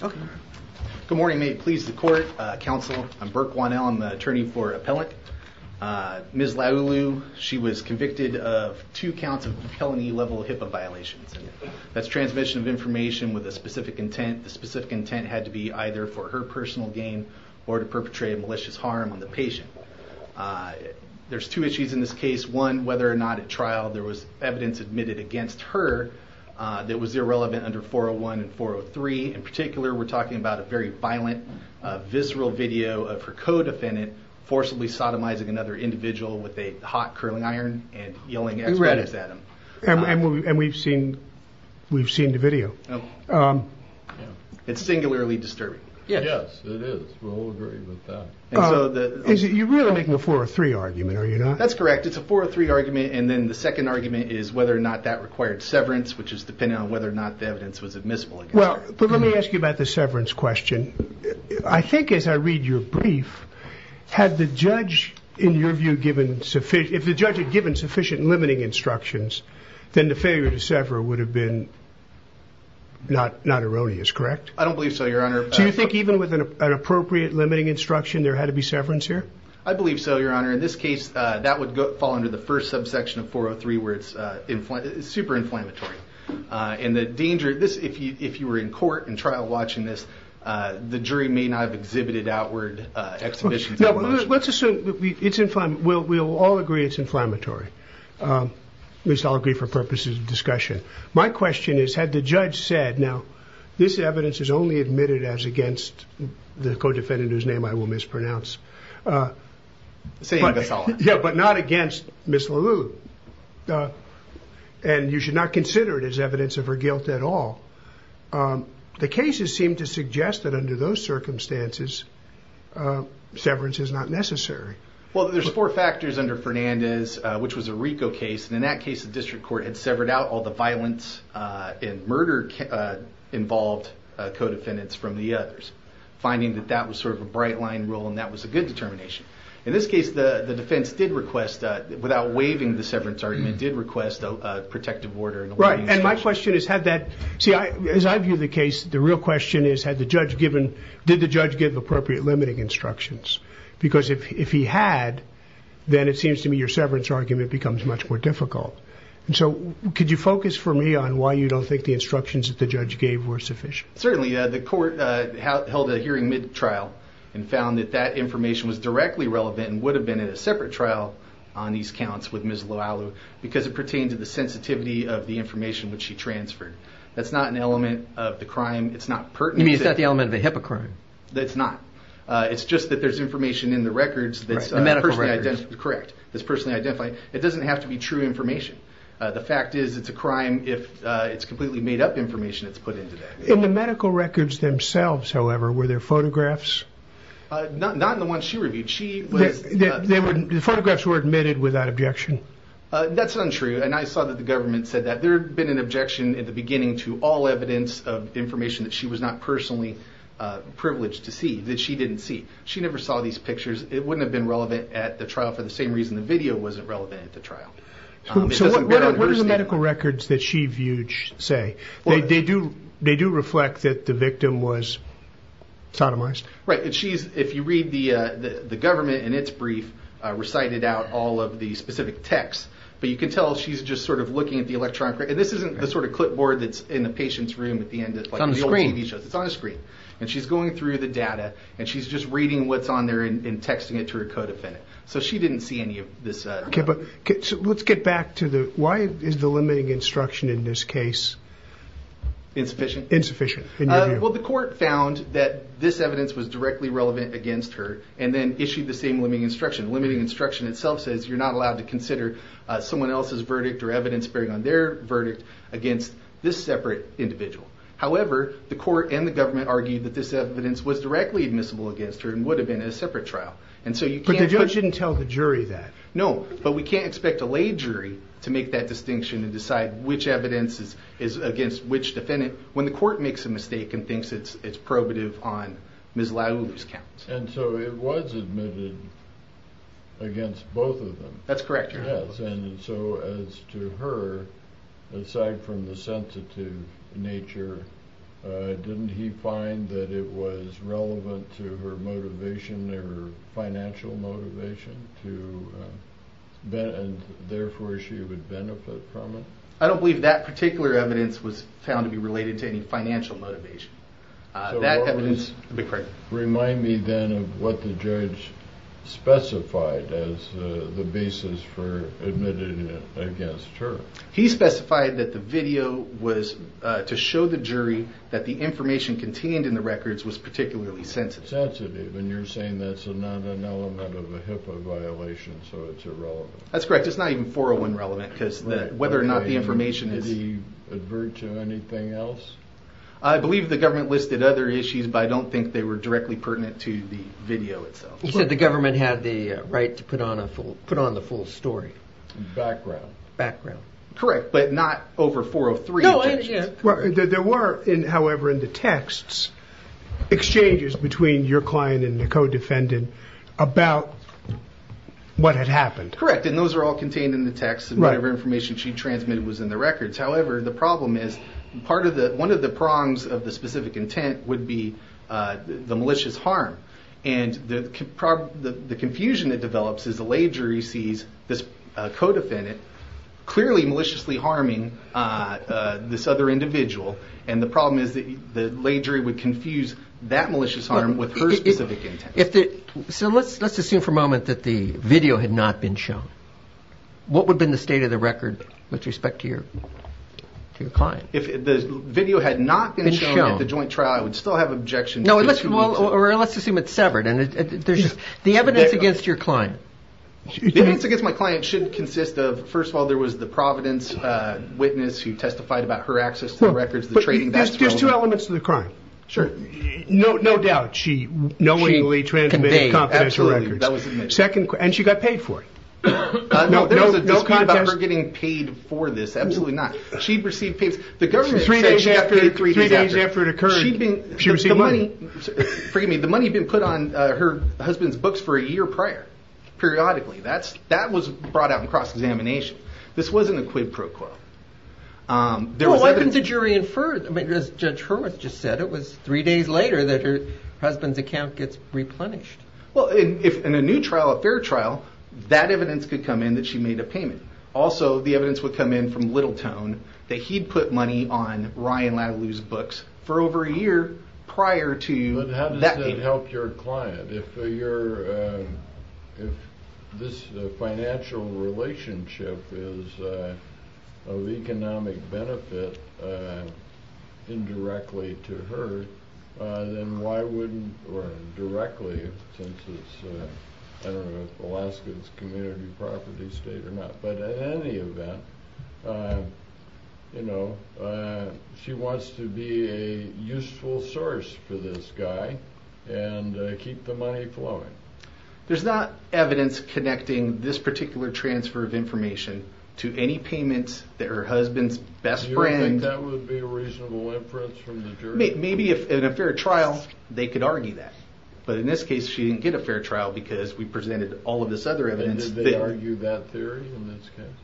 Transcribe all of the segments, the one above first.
Good morning, may it please the court, counsel, I'm Burke Wannell, I'm the attorney for appellant. Ms. Laulu, she was convicted of two counts of felony level HIPAA violations. That's transmission of information with a specific intent. The specific intent had to be either for her personal gain or to perpetrate a malicious harm on the patient. There's two issues in this case. One, whether or not at trial there was evidence admitted against her that was irrelevant under 401 and 403. In particular, we're talking about a very violent visceral video of her co-defendant forcibly sodomizing another individual with a hot curling iron and yelling at him. And we've seen the video. It's singularly disturbing. Yes, it is. We'll agree with that. You're really making a 403 argument, are you not? That's correct. It's a 403 argument. And then the second argument is whether or not that required severance, which is depending on whether or not the evidence was admissible. Well, let me ask you about the severance question. I think as I read your brief, had the judge, in your view, given sufficient, if the judge had given sufficient limiting instructions, then the failure to sever would have been not erroneous, correct? I don't believe so, your honor. Do you think even with an appropriate limiting instruction, there had to be severance here? I believe so, your honor. In this case, that would fall under the first subsection of 403, where it's super inflammatory. And the danger, if you were in court and trial watching this, the jury may not have exhibited outward exhibitions of emotion. Let's assume, we'll all agree it's inflammatory. At least I'll agree for purposes of discussion. My question is, had the judge said, now, this evidence is only admitted as against the co-defendant, whose name I will mispronounce. Yeah, but not against Ms. LaLue. And you should not consider it as evidence of her guilt at all. The cases seem to suggest that under those circumstances, severance is not necessary. Well, there's four factors under Fernandez, which was a RICO case. And in that case, the district court had severed out all the violence and murder-involved co-defendants from the others, finding that that was sort of a bright line rule, and that was a good determination. In this case, the defense did request, without waiving the severance argument, did request a protective order. Right. And my question is, had that... See, as I view the case, the real question is, did the judge give appropriate limiting instructions? Because if he had, then it seems to me your severance argument becomes much more difficult. And so, could you focus for me on why you don't think the instructions that the judge gave were sufficient? Certainly. The court held a hearing mid-trial and found that that information was directly relevant and would have been in a separate trial on these counts with Ms. LaLue, because it pertained to the sensitivity of the information which she transferred. That's not an element of the crime. It's not pertinent. You mean, it's not the element of a HIPAA crime? That's not. It's just that there's information in the records that's... Right, the medical records. Correct, that's personally identified. It doesn't have to be true information. The fact is, it's a crime if it's completely made-up information that's put into that. In the medical records themselves, however, were there photographs? Not in the ones she reviewed. The photographs were admitted without objection? That's untrue, and I saw that the government said that. There had been an objection at the beginning to all evidence of information that she was not personally privileged to see, that she didn't see. She never saw these pictures. It wouldn't have been relevant at the trial for the same reason the video wasn't relevant at the trial. So what are the medical records that she viewed say? They do reflect that the victim was sodomized? Right, and if you read the government in its brief, recited out all of the specific texts, but you can tell she's just sort of looking at the electronic... And this isn't the sort of clipboard that's in the patient's room at the end of the old TV shows. It's on a screen. And she's going through the data, and she's just reading what's on there and texting it to her co-defendant. So she didn't see any of this. Let's get back to the... Why is the limiting instruction in this case... Insufficient? Insufficient. Well, the court found that this evidence was directly relevant against her and then issued the same limiting instruction. The limiting instruction itself says you're not allowed to consider someone else's verdict or evidence bearing on their verdict against this separate individual. However, the court and the government argued that this evidence was directly admissible against her and would have been in a separate trial. And so you can't... But the judge didn't tell the jury that? No, but we can't expect a lay jury to make that distinction and decide which evidence is against which defendant when the court makes a mistake and thinks it's probative on Ms. Laulu's count. And so it was admitted against both of them? That's correct. Yes. And so as to her, aside from the sensitive nature, didn't he find that it was relevant to her motivation, her financial motivation, and therefore she would benefit from it? I don't believe that particular evidence was found to be related to any financial motivation. That evidence... So what was... Remind me then of what the judge specified as the basis for admitting it against her. He specified that the video was to show the jury that the information contained in the records was particularly sensitive. And you're saying that's not an element of a HIPAA violation, so it's irrelevant. That's correct. It's not even 401 relevant because whether or not the information is... Did he advert to anything else? I believe the government listed other issues, but I don't think they were directly pertinent to the video itself. He said the government had the right to put on the full story. Background. Background. Correct, but not over 403. There were, however, in the texts, exchanges between your client and the co-defendant about what had happened. Correct, and those are all contained in the text of whatever information she transmitted was in the records. However, the problem is one of the prongs of the specific intent would be the malicious harm. And the confusion that develops is the lay jury sees this co-defendant clearly maliciously harming this other individual. And the problem is the lay jury would confuse that malicious harm with her specific intent. So let's assume for a moment that the video had not been shown. What would have been the state of the record with respect to your client? If the video had not been shown at the joint trial, I would still have objections. No, let's assume it's severed. The evidence against your client. The evidence against my client should consist of, first of all, there was the Providence witness who testified about her access to the records. But there's two elements to the crime. Sure. No doubt, she knowingly transmitted confidential records. Absolutely, that was the mission. Second, and she got paid for it. No, there's no contest. There's no claim about her getting paid for this. Absolutely not. She received paid. The government said she got paid three days after it occurred. Three days after it occurred, she received money. Forgive me. The money had been put on her husband's books for a year prior, periodically. That was brought out in cross-examination. This wasn't a quid pro quo. No, why couldn't the jury infer it? I mean, as Judge Hurwitz just said, it was three days later that her husband's account gets replenished. Well, in a new trial, a fair trial, that evidence could come in that she made a payment. Also, the evidence would come in from Littletone that he'd put money on Ryan Latalue's books for over a year prior to that payment. But how does that help your client? If this financial relationship is of economic benefit indirectly to her, then why wouldn't—or directly, since it's, I don't know if Alaska is a community property state or not, but in any event, you know, she wants to be a useful source for this guy and keep the money flowing. There's not evidence connecting this particular transfer of information to any payments that her husband's best friend— You don't think that would be a reasonable inference from the jury? Maybe if in a fair trial, they could argue that. But in this case, she didn't get a fair trial because we presented all of this other evidence. Did they argue that theory in this case?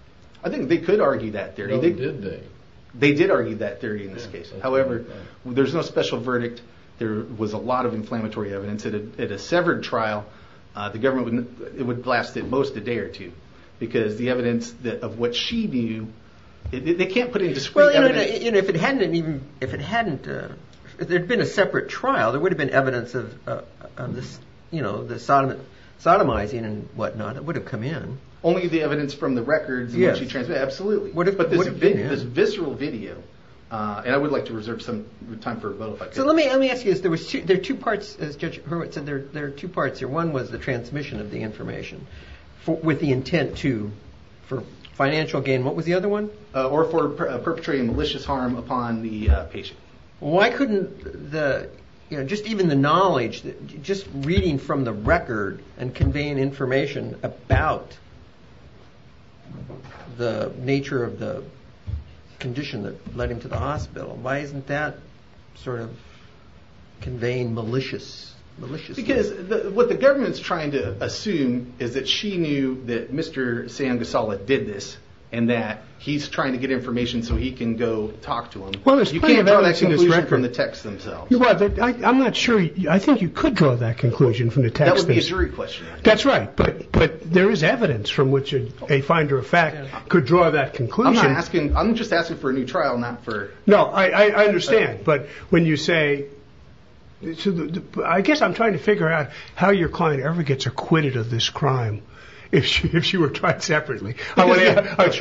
I think they could argue that theory. No, did they? They did argue that theory in this case. However, there's no special verdict. There was a lot of inflammatory evidence. At a severed trial, the government would—it would last at most a day or two because the evidence of what she knew, they can't put in discrete evidence. If it hadn't even—if it hadn't—if there'd been a separate trial, there would have been evidence of this, you know, the sodomizing and whatnot. It would have come in. Only the evidence from the records and what she transmitted? Absolutely. But this visceral video, and I would like to reserve some time for a vote if I could. So let me ask you this. There was two—there are two parts, as Judge Hurwitz said, there are two parts here. One was the transmission of the information with the intent to—for financial gain. What was the other one? Or for perpetrating malicious harm upon the patient. Why couldn't the—you know, just even the knowledge, just reading from the record and conveying information about the nature of the condition that led him to the hospital, why isn't that sort of conveying maliciousness? Because what the government's trying to assume is that she knew that Mr. Sam Gosselaar did this and that he's trying to get information so he can go talk to him. Well, there's plenty of evidence in this record. You can't draw that conclusion from the texts themselves. Well, I'm not sure—I think you could draw that conclusion from the texts. That would be a jury question. That's right. But there is evidence from which a finder of fact could draw that conclusion. I'm not asking—I'm just asking for a new trial, not for— No, I understand. But when you say—I guess I'm trying to figure out how your client ever gets acquitted of this crime if she were tried separately. That's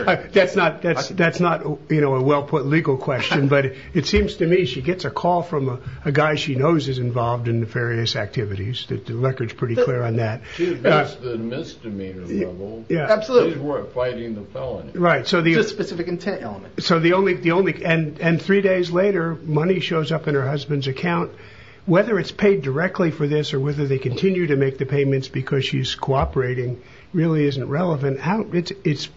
not—that's not, you know, a well-put legal question. But it seems to me she gets a call from a guy she knows is involved in nefarious activities. The record's pretty clear on that. That's the misdemeanor level. Yeah, absolutely. She's fighting the felony. Right, so the— Just specific intent element. So the only—and three days later, money shows up in her husband's account. Whether it's paid directly for this or whether they continue to make the payments because she's cooperating really isn't relevant. It's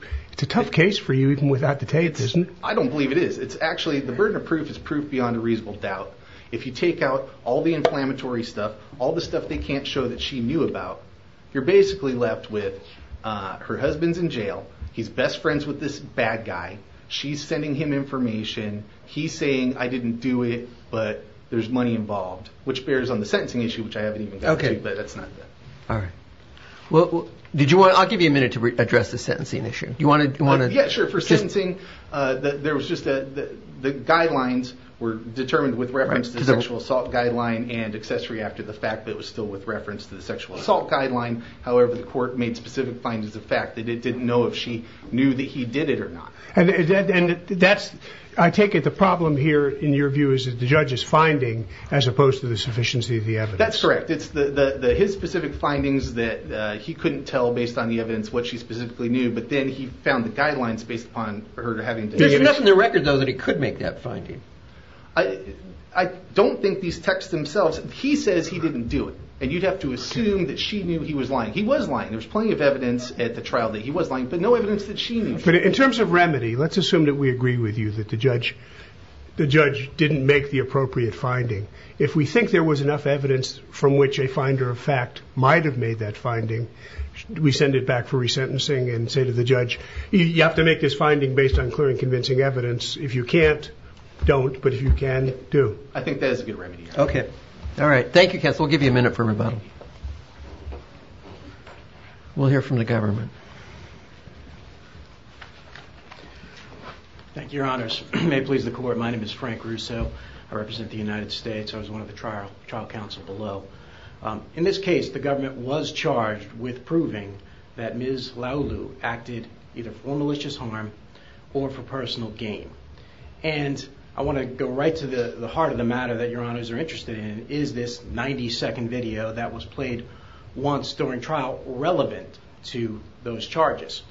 a tough case for you even without the tapes, isn't it? I don't believe it is. It's actually—the burden of proof is proof beyond a reasonable doubt. If you take out all the inflammatory stuff, all the stuff they can't show that she knew about, you're basically left with her husband's in jail. He's best friends with this bad guy. She's sending him information. He's saying, I didn't do it, but there's money involved, which bears on the sentencing issue, which I haven't even gotten to, but that's not it. All right. Well, did you want—I'll give you a minute to address the sentencing issue. Do you want to— Yeah, sure. For sentencing, there was just a—the guidelines were determined with reference to the sexual assault guideline and accessory after the fact that it was still with reference to the sexual assault guideline. However, the court made specific findings of fact that it didn't know if she knew that he did it or not. And that's—I take it the problem here, in your view, is the judge's finding, as opposed to the sufficiency of the evidence. That's correct. It's his specific findings that he couldn't tell based on the evidence what she specifically knew, but then he found the guidelines based upon her having— There's nothing in the record, though, that he could make that finding. I don't think these texts themselves—he says he didn't do it, and you'd have to assume that she knew he was lying. He was lying. There was plenty of evidence at the trial that he was lying, but no evidence that she knew. But in terms of remedy, let's assume that we agree with you that the judge didn't make the appropriate finding. If we think there was enough evidence from which a finder of fact might have made that finding, we send it back for resentencing and say to the judge, you have to make this finding based on clear and convincing evidence. If you can't, don't. But if you can, do. I think that is a good remedy. Okay. All right. Thank you, counsel. We'll give you a minute for rebuttal. We'll hear from the government. Thank you, your honors. May it please the court, my name is Frank Russo. I represent the United States. I was one of the trial counsel below. In this case, the government was charged with proving that Ms. Laulu acted either for malicious harm or for personal gain. And I want to go right to the heart of the matter that your honors are interested in, is this 90 second video that was played once during trial relevant to those charges.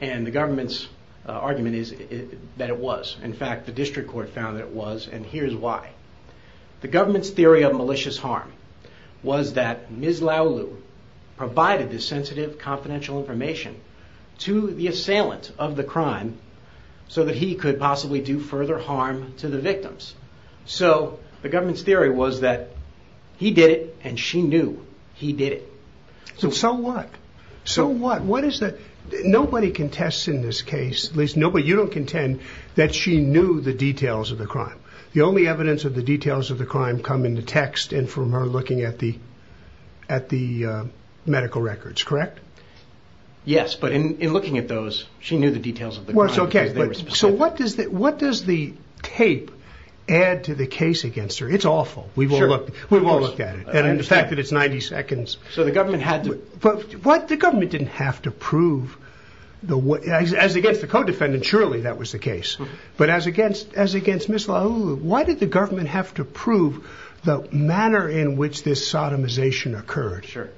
And the government's argument is that it was. In fact, the district court found that it was. And here's why. The government's theory of malicious harm was that Ms. Laulu provided this sensitive confidential information to the assailant of the crime so that he could possibly do further harm to the victims. So the government's theory was that he did it and she knew he did it. So what? So what? What is that? Nobody contests in this case, at least nobody. You don't contend that she knew the details of the crime. The only evidence of the details of the crime come in the text and from her looking at the medical records, correct? Yes. But in looking at those, she knew the details of the crime. So what does that, what does the tape add to the case against her? It's awful. We've all looked, we've all looked at it. And the fact that it's 90 seconds. So the government had to. But what? The government didn't have to prove the, as against the co-defendant. Surely that was the case. But as against, as against Ms. Laulu, why did the government have to prove the manner in which this sodomization occurred? Sure.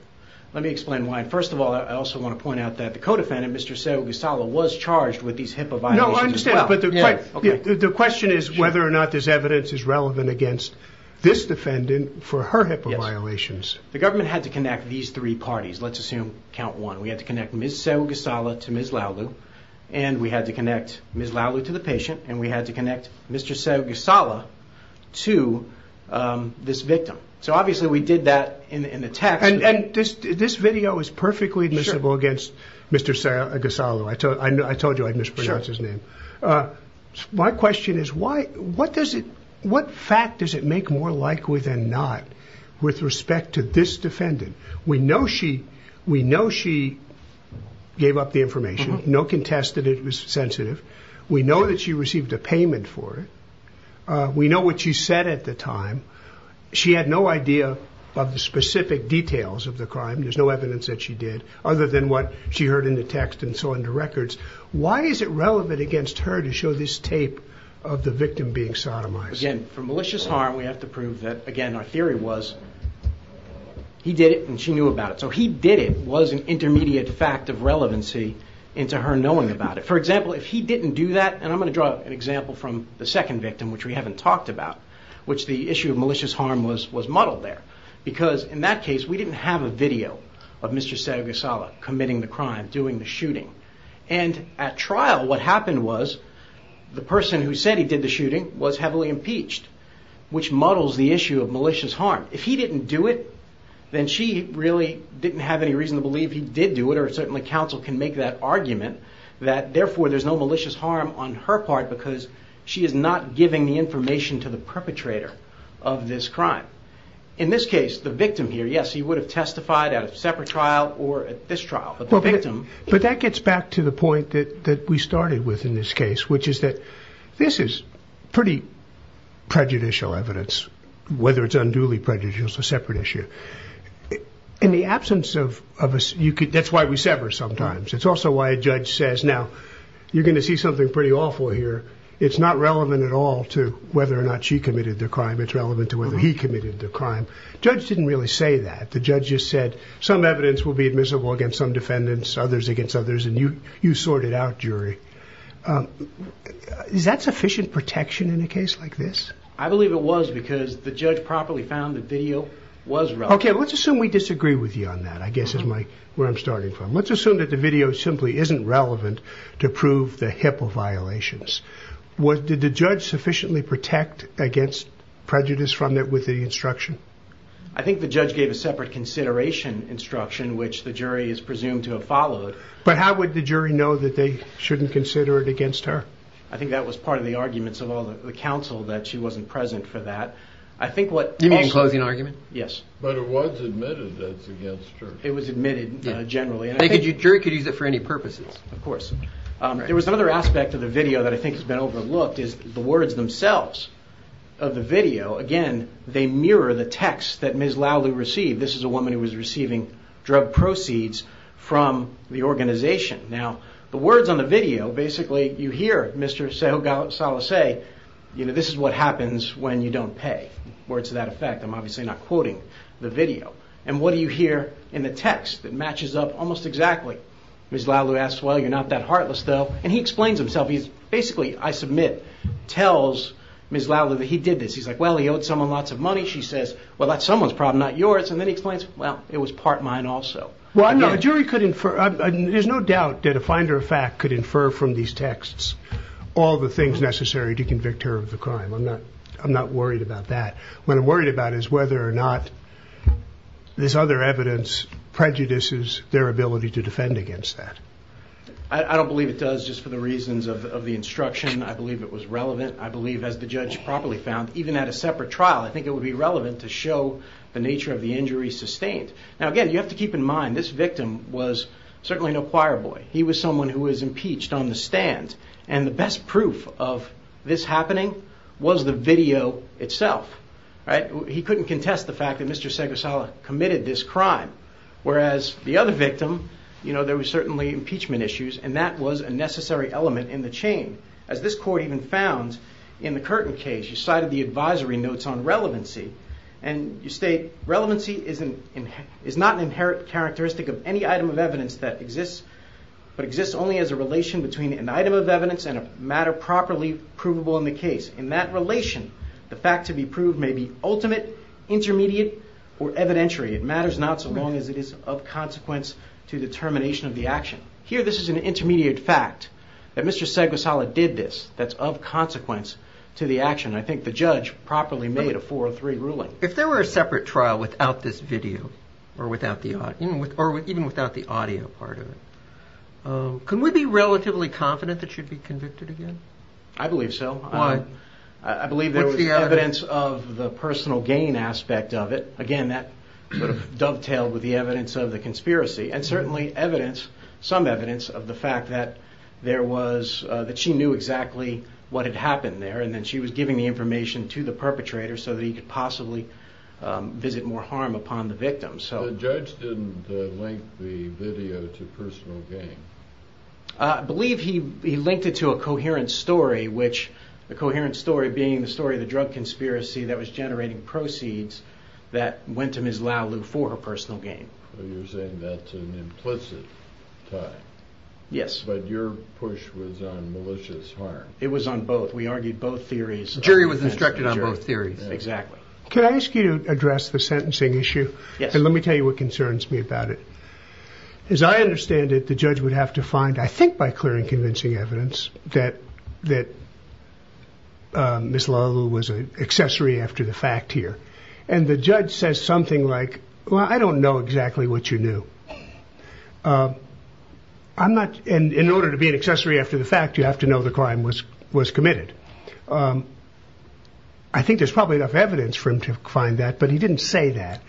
Let me explain why. First of all, I also want to point out that the co-defendant, Mr. was charged with these HIPAA violations as well. But the question is whether or not this evidence is relevant against this defendant for her HIPAA violations. The government had to connect these three parties. Let's assume count one. We had to connect Ms. to Ms. And we had to connect Ms. to the patient. And we had to connect Mr. to this victim. So obviously we did that in the text. And this, this video is perfectly admissible against Mr. Gasalo. I told, I told you I mispronounced his name. My question is why, what does it, what fact does it make more likely than not with respect to this defendant? We know she, we know she gave up the information. No contest that it was sensitive. We know that she received a payment for it. We know what she said at the time. She had no idea of the specific details of the crime. There's no evidence that she did other than what she heard in the text and so into records. Why is it relevant against her to show this tape of the victim being sodomized? Again, for malicious harm, we have to prove that again, our theory was he did it and she knew about it. So he did it was an intermediate fact of relevancy into her knowing about it. For example, if he didn't do that, and I'm going to draw an example from the second victim, which we haven't talked about, which the issue of malicious harm was, was muddled there because in that case, we didn't have a video of Mr. Sargasso committing the crime, doing the shooting. And at trial, what happened was the person who said he did the shooting was heavily impeached, which muddles the issue of malicious harm. If he didn't do it, then she really didn't have any reason to believe he did do it. Or certainly counsel can make that argument that therefore there's no malicious harm on her part, because she is not giving the information to the perpetrator of this crime. In this case, the victim here, yes, he would have testified at a separate trial or at this trial. But that gets back to the point that we started with in this case, which is that this is pretty prejudicial evidence, whether it's unduly prejudicial, it's a separate issue. In the absence of us, that's why we sever sometimes. It's also why a judge says now you're going to see something pretty awful here. It's not relevant at all to whether or not she committed the crime. It's relevant to whether he committed the crime. Judge didn't really say that. The judge just said some evidence will be admissible against some defendants, others against others. And you, you sorted out jury. Is that sufficient protection in a case like this? I believe it was because the judge properly found the video was wrong. Okay. Let's assume we disagree with you on that. I guess is my where I'm starting from. Let's assume that the video simply isn't relevant to prove the HIPAA violations. Did the judge sufficiently protect against prejudice from it with the instruction? I think the judge gave a separate consideration instruction, which the jury is presumed to have followed. But how would the jury know that they shouldn't consider it against her? I think that was part of the arguments of all the council that she wasn't present for that. I think what closing argument. Yes. But it was admitted that's against her. It was admitted generally. Jury could use it for any purposes. Of course. There was another aspect of the video that I think has been overlooked is the words themselves of the video. Again, they mirror the text that Ms. Lowley received. This is a woman who was receiving drug proceeds from the organization. Now, the words on the video, basically you hear Mr. Salas say, this is what happens when you don't pay. Words to that effect. I'm obviously not quoting the video. And what do you hear in the text that matches up almost exactly? Ms. Lowley asks, well, you're not that heartless, though. And he explains himself. He's basically, I submit, tells Ms. Lowley that he did this. He's like, well, he owed someone lots of money. She says, well, that's someone's problem, not yours. And then he explains, well, it was part mine also. Well, I'm not a jury could infer. There's no doubt that a finder of fact could infer from these texts all the things necessary to convict her of the crime. I'm not worried about that. What I'm worried about is whether or not this other evidence prejudices their ability to defend against that. I don't believe it does just for the reasons of the instruction. I believe it was relevant. I believe, as the judge properly found, even at a separate trial, I think it would be relevant to show the nature of the injury sustained. Now, again, you have to keep in mind this victim was certainly no choir boy. He was someone who was impeached on the stand. And the best proof of this happening was the video itself. He couldn't contest the fact that Mr. Segursala committed this crime, whereas the other victim, there was certainly impeachment issues, and that was a necessary element in the chain. As this court even found in the Curtin case, you cited the advisory notes on relevancy, and you state, relevancy is not an inherent characteristic of any item of evidence that exists, but exists only as a relation between an item of evidence and a matter properly provable in the case. In that relation, the fact to be proved may be ultimate, intermediate, or evidentiary. It matters not so long as it is of consequence to the termination of the action. Here, this is an intermediate fact that Mr. Segursala did this that's of consequence to the action. I think the judge properly made a 403 ruling. If there were a separate trial without this video, or even without the audio part of it, can we be relatively confident that you'd be convicted again? I believe so. I believe there was evidence of the personal gain aspect of it. Again, that dovetailed with the evidence of the conspiracy, and certainly evidence, some evidence of the fact that there was, that she knew exactly what had happened there, and then she was giving the information to the perpetrator so that he could possibly visit more harm upon the victim. The judge didn't link the video to personal gain. I believe he linked it to a coherent story, which the coherent story being the story of the drug conspiracy that was generating proceeds that went to Ms. Lau Lu for her personal gain. You're saying that's an implicit tie? Yes. But your push was on malicious harm? It was on both. We argued both theories. The jury was instructed on both theories. Exactly. Can I ask you to address the sentencing issue? Yes. Let me tell you what concerns me about it. As I understand it, the judge would have to find, I think by clearing convincing evidence, that Ms. Lau Lu was an accessory after the fact here. And the judge says something like, well, I don't know exactly what you knew. In order to be an accessory after the fact, you have to know the crime was committed. I think there's probably enough evidence for him to find that, but he didn't say that.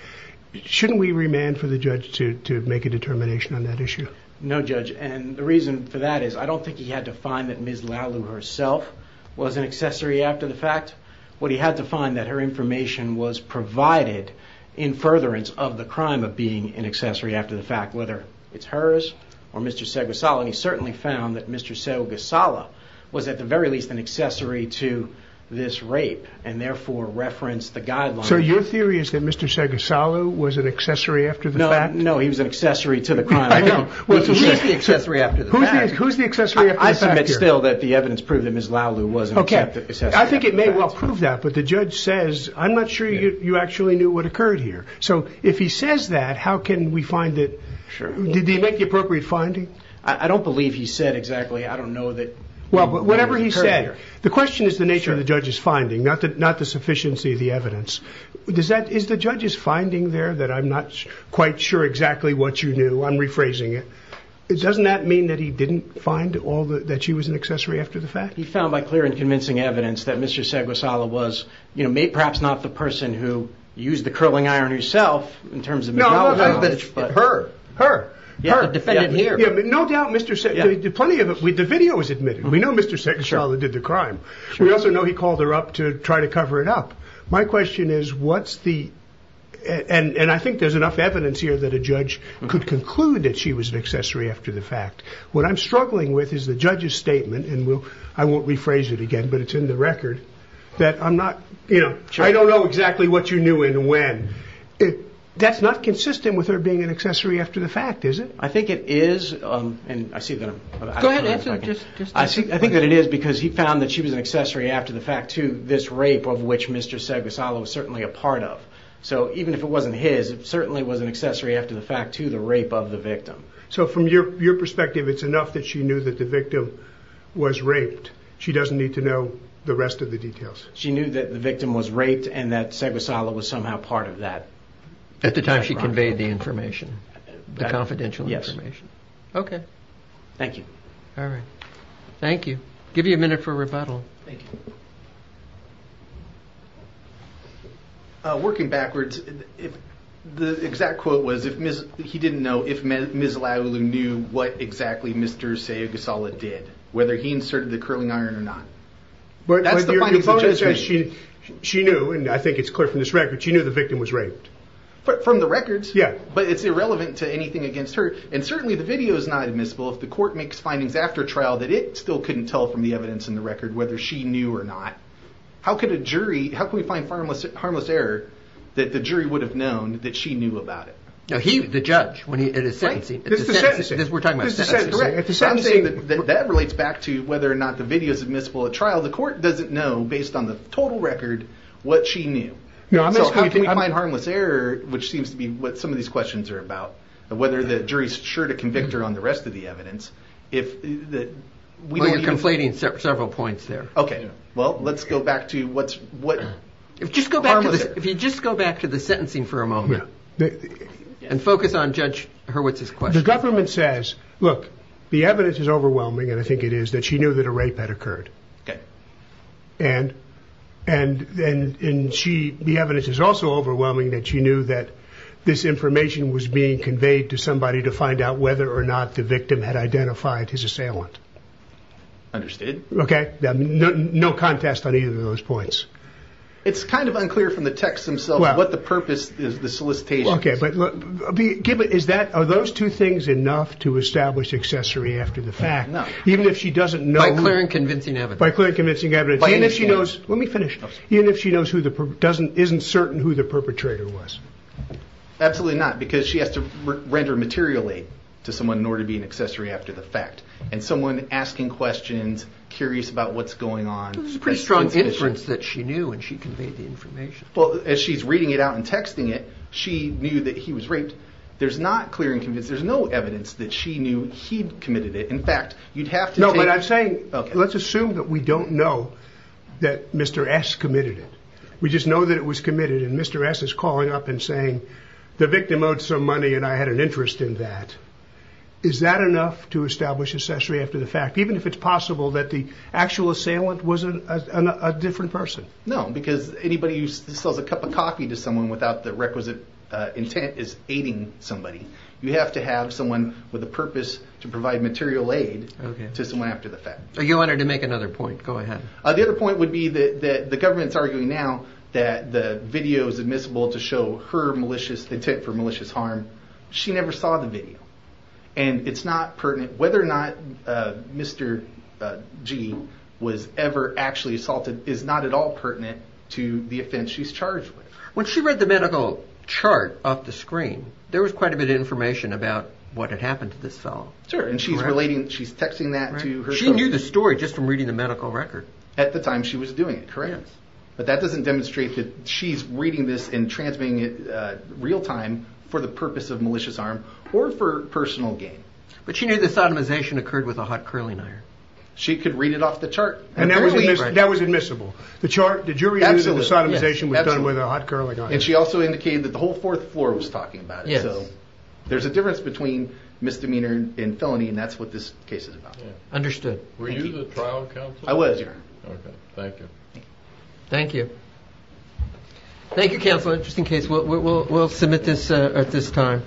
Shouldn't we remand for the judge to make a determination on that issue? No, judge. The reason for that is, I don't think he had to find that Ms. Lau Lu herself was an accessory after the fact. What he had to find, that her information was provided in furtherance of the crime of being an accessory after the fact, whether it's hers or Mr. Seguesala. And he certainly found that Mr. Seguesala was at the very least an accessory to this rape, and therefore referenced the guidelines. So your theory is that Mr. Seguesala was an accessory after the fact? No, he was an accessory to the crime. He's the accessory after the fact. Who's the accessory after the fact here? I submit still that the evidence proved that Ms. Lau Lu was an accessory after the fact. I think it may well prove that, but the judge says, I'm not sure you actually knew what occurred here. So if he says that, how can we find it? Did he make the appropriate finding? I don't believe he said exactly. I don't know that- Well, whatever he said, the question is the nature of the judge's finding, not the sufficiency of the evidence. Is the judge's finding there that I'm not quite sure exactly what you knew? I'm rephrasing it. Doesn't that mean that he didn't find all that she was an accessory after the fact? He found by clear and convincing evidence that Mr. Seguesala was, you know, perhaps not the person who used the curling iron herself in terms of- No, I'm not saying that it's her. Her. Her. The defendant here. No doubt Mr. Seguesala did plenty of it. The video was admitted. We know Mr. Seguesala did the crime. We also know he called her up to try to cover it up. My question is, what's the... And I think there's enough evidence here that a judge could conclude that she was an accessory after the fact. What I'm struggling with is the judge's statement, and I won't rephrase it again, but it's in the record, that I'm not, you know, I don't know exactly what you knew and when. That's not consistent with her being an accessory after the fact, is it? I think it is. And I see that I'm- Go ahead and answer, just- I think that it is because he found that she was an accessory after the fact to this rape of which Mr. Seguesala was certainly a part of. So even if it wasn't his, certainly was an accessory after the fact to the rape of the victim. So from your perspective, it's enough that she knew that the victim was raped. She doesn't need to know the rest of the details. She knew that the victim was raped and that Seguesala was somehow part of that. At the time she conveyed the information? The confidential information? Yes. Okay. Thank you. All right. Thank you. Give you a minute for rebuttal. Thank you. Working backwards, the exact quote was, he didn't know if Ms. Laulu knew what exactly Mr. Seguesala did, whether he inserted the curling iron or not. That's the findings of the judgment. She knew, and I think it's clear from this record, she knew the victim was raped. From the records? Yeah. But it's irrelevant to anything against her. And certainly the video is not admissible if the court makes findings after trial that it still couldn't tell from the evidence in the record whether she knew or not. How could a jury, how can we find harmless error that the jury would have known that she knew about it? No, he, the judge, when he, at a sentencing. At the sentencing. We're talking about a sentencing. At the sentencing. That relates back to whether or not the video is admissible at trial. The court doesn't know, based on the total record, what she knew. So how can we find harmless error, which seems to be what some of these questions are about, whether the jury's sure to convict her on the rest of the evidence, if we don't even- Well, you're conflating several points there. Okay. Well, let's go back to what's, what- Just go back to this. If you just go back to the sentencing for a moment. And focus on Judge Hurwitz's question. The government says, look, the evidence is overwhelming, and I think it is, that she knew that a rape had occurred. Okay. And, and, and she, the evidence is also overwhelming that she knew that this information was being conveyed to somebody to find out whether or not the victim had identified his assailant. Understood. Okay. No contest on either of those points. It's kind of unclear from the texts themselves what the purpose is, the solicitation. Okay, but look, give it, is that, are those two things enough to establish accessory after the fact? No. Even if she doesn't know- By clear and convincing evidence. By clear and convincing evidence. And if she knows, let me finish. Even if she knows who the, doesn't, isn't certain who the perpetrator was. Absolutely not, because she has to render materially to someone in order to be an accessory after the fact. And someone asking questions, curious about what's going on. That's a pretty strong inference that she knew and she conveyed the information. Well, as she's reading it out and texting it, she knew that he was raped. There's not clear and convinced, there's no evidence that she knew he'd committed it. In fact, you'd have to take- No, but I'm saying, let's assume that we don't know that Mr. S committed it. We just know that it was committed and Mr. S is calling up and saying, the victim owed some money and I had an interest in that. Is that enough to establish accessory after the fact? Even if it's possible that the actual assailant was a different person? No, because anybody who sells a cup of coffee to someone without the requisite intent is aiding somebody. You have to have someone with a purpose to provide material aid to someone after the fact. Your Honor, to make another point, go ahead. The other point would be that the government's arguing now that the video is admissible to show her malicious intent for malicious harm. She never saw the video and it's not pertinent whether or not Mr. G was ever actually assaulted is not at all pertinent to the offense she's charged with. When she read the medical chart off the screen, there was quite a bit of information about what had happened to this fellow. Sure, and she's relating, she's texting that to herself. She knew the story just from reading the medical record. At the time she was doing it, correct. But that doesn't demonstrate that she's reading this and transmitting it real time for the purpose of malicious harm or for personal gain. But she knew the sodomization occurred with a hot curling iron. She could read it off the chart. And that was admissible. The chart, the jury knew that the sodomization was done with a hot curling iron. And she also indicated that the whole fourth floor was talking about it. So there's a difference between misdemeanor and felony and that's what this case is about. Understood. Were you the trial counsel? I was, yeah. Okay, thank you. Thank you. Thank you, counsel. Just in case, we'll submit this at this time.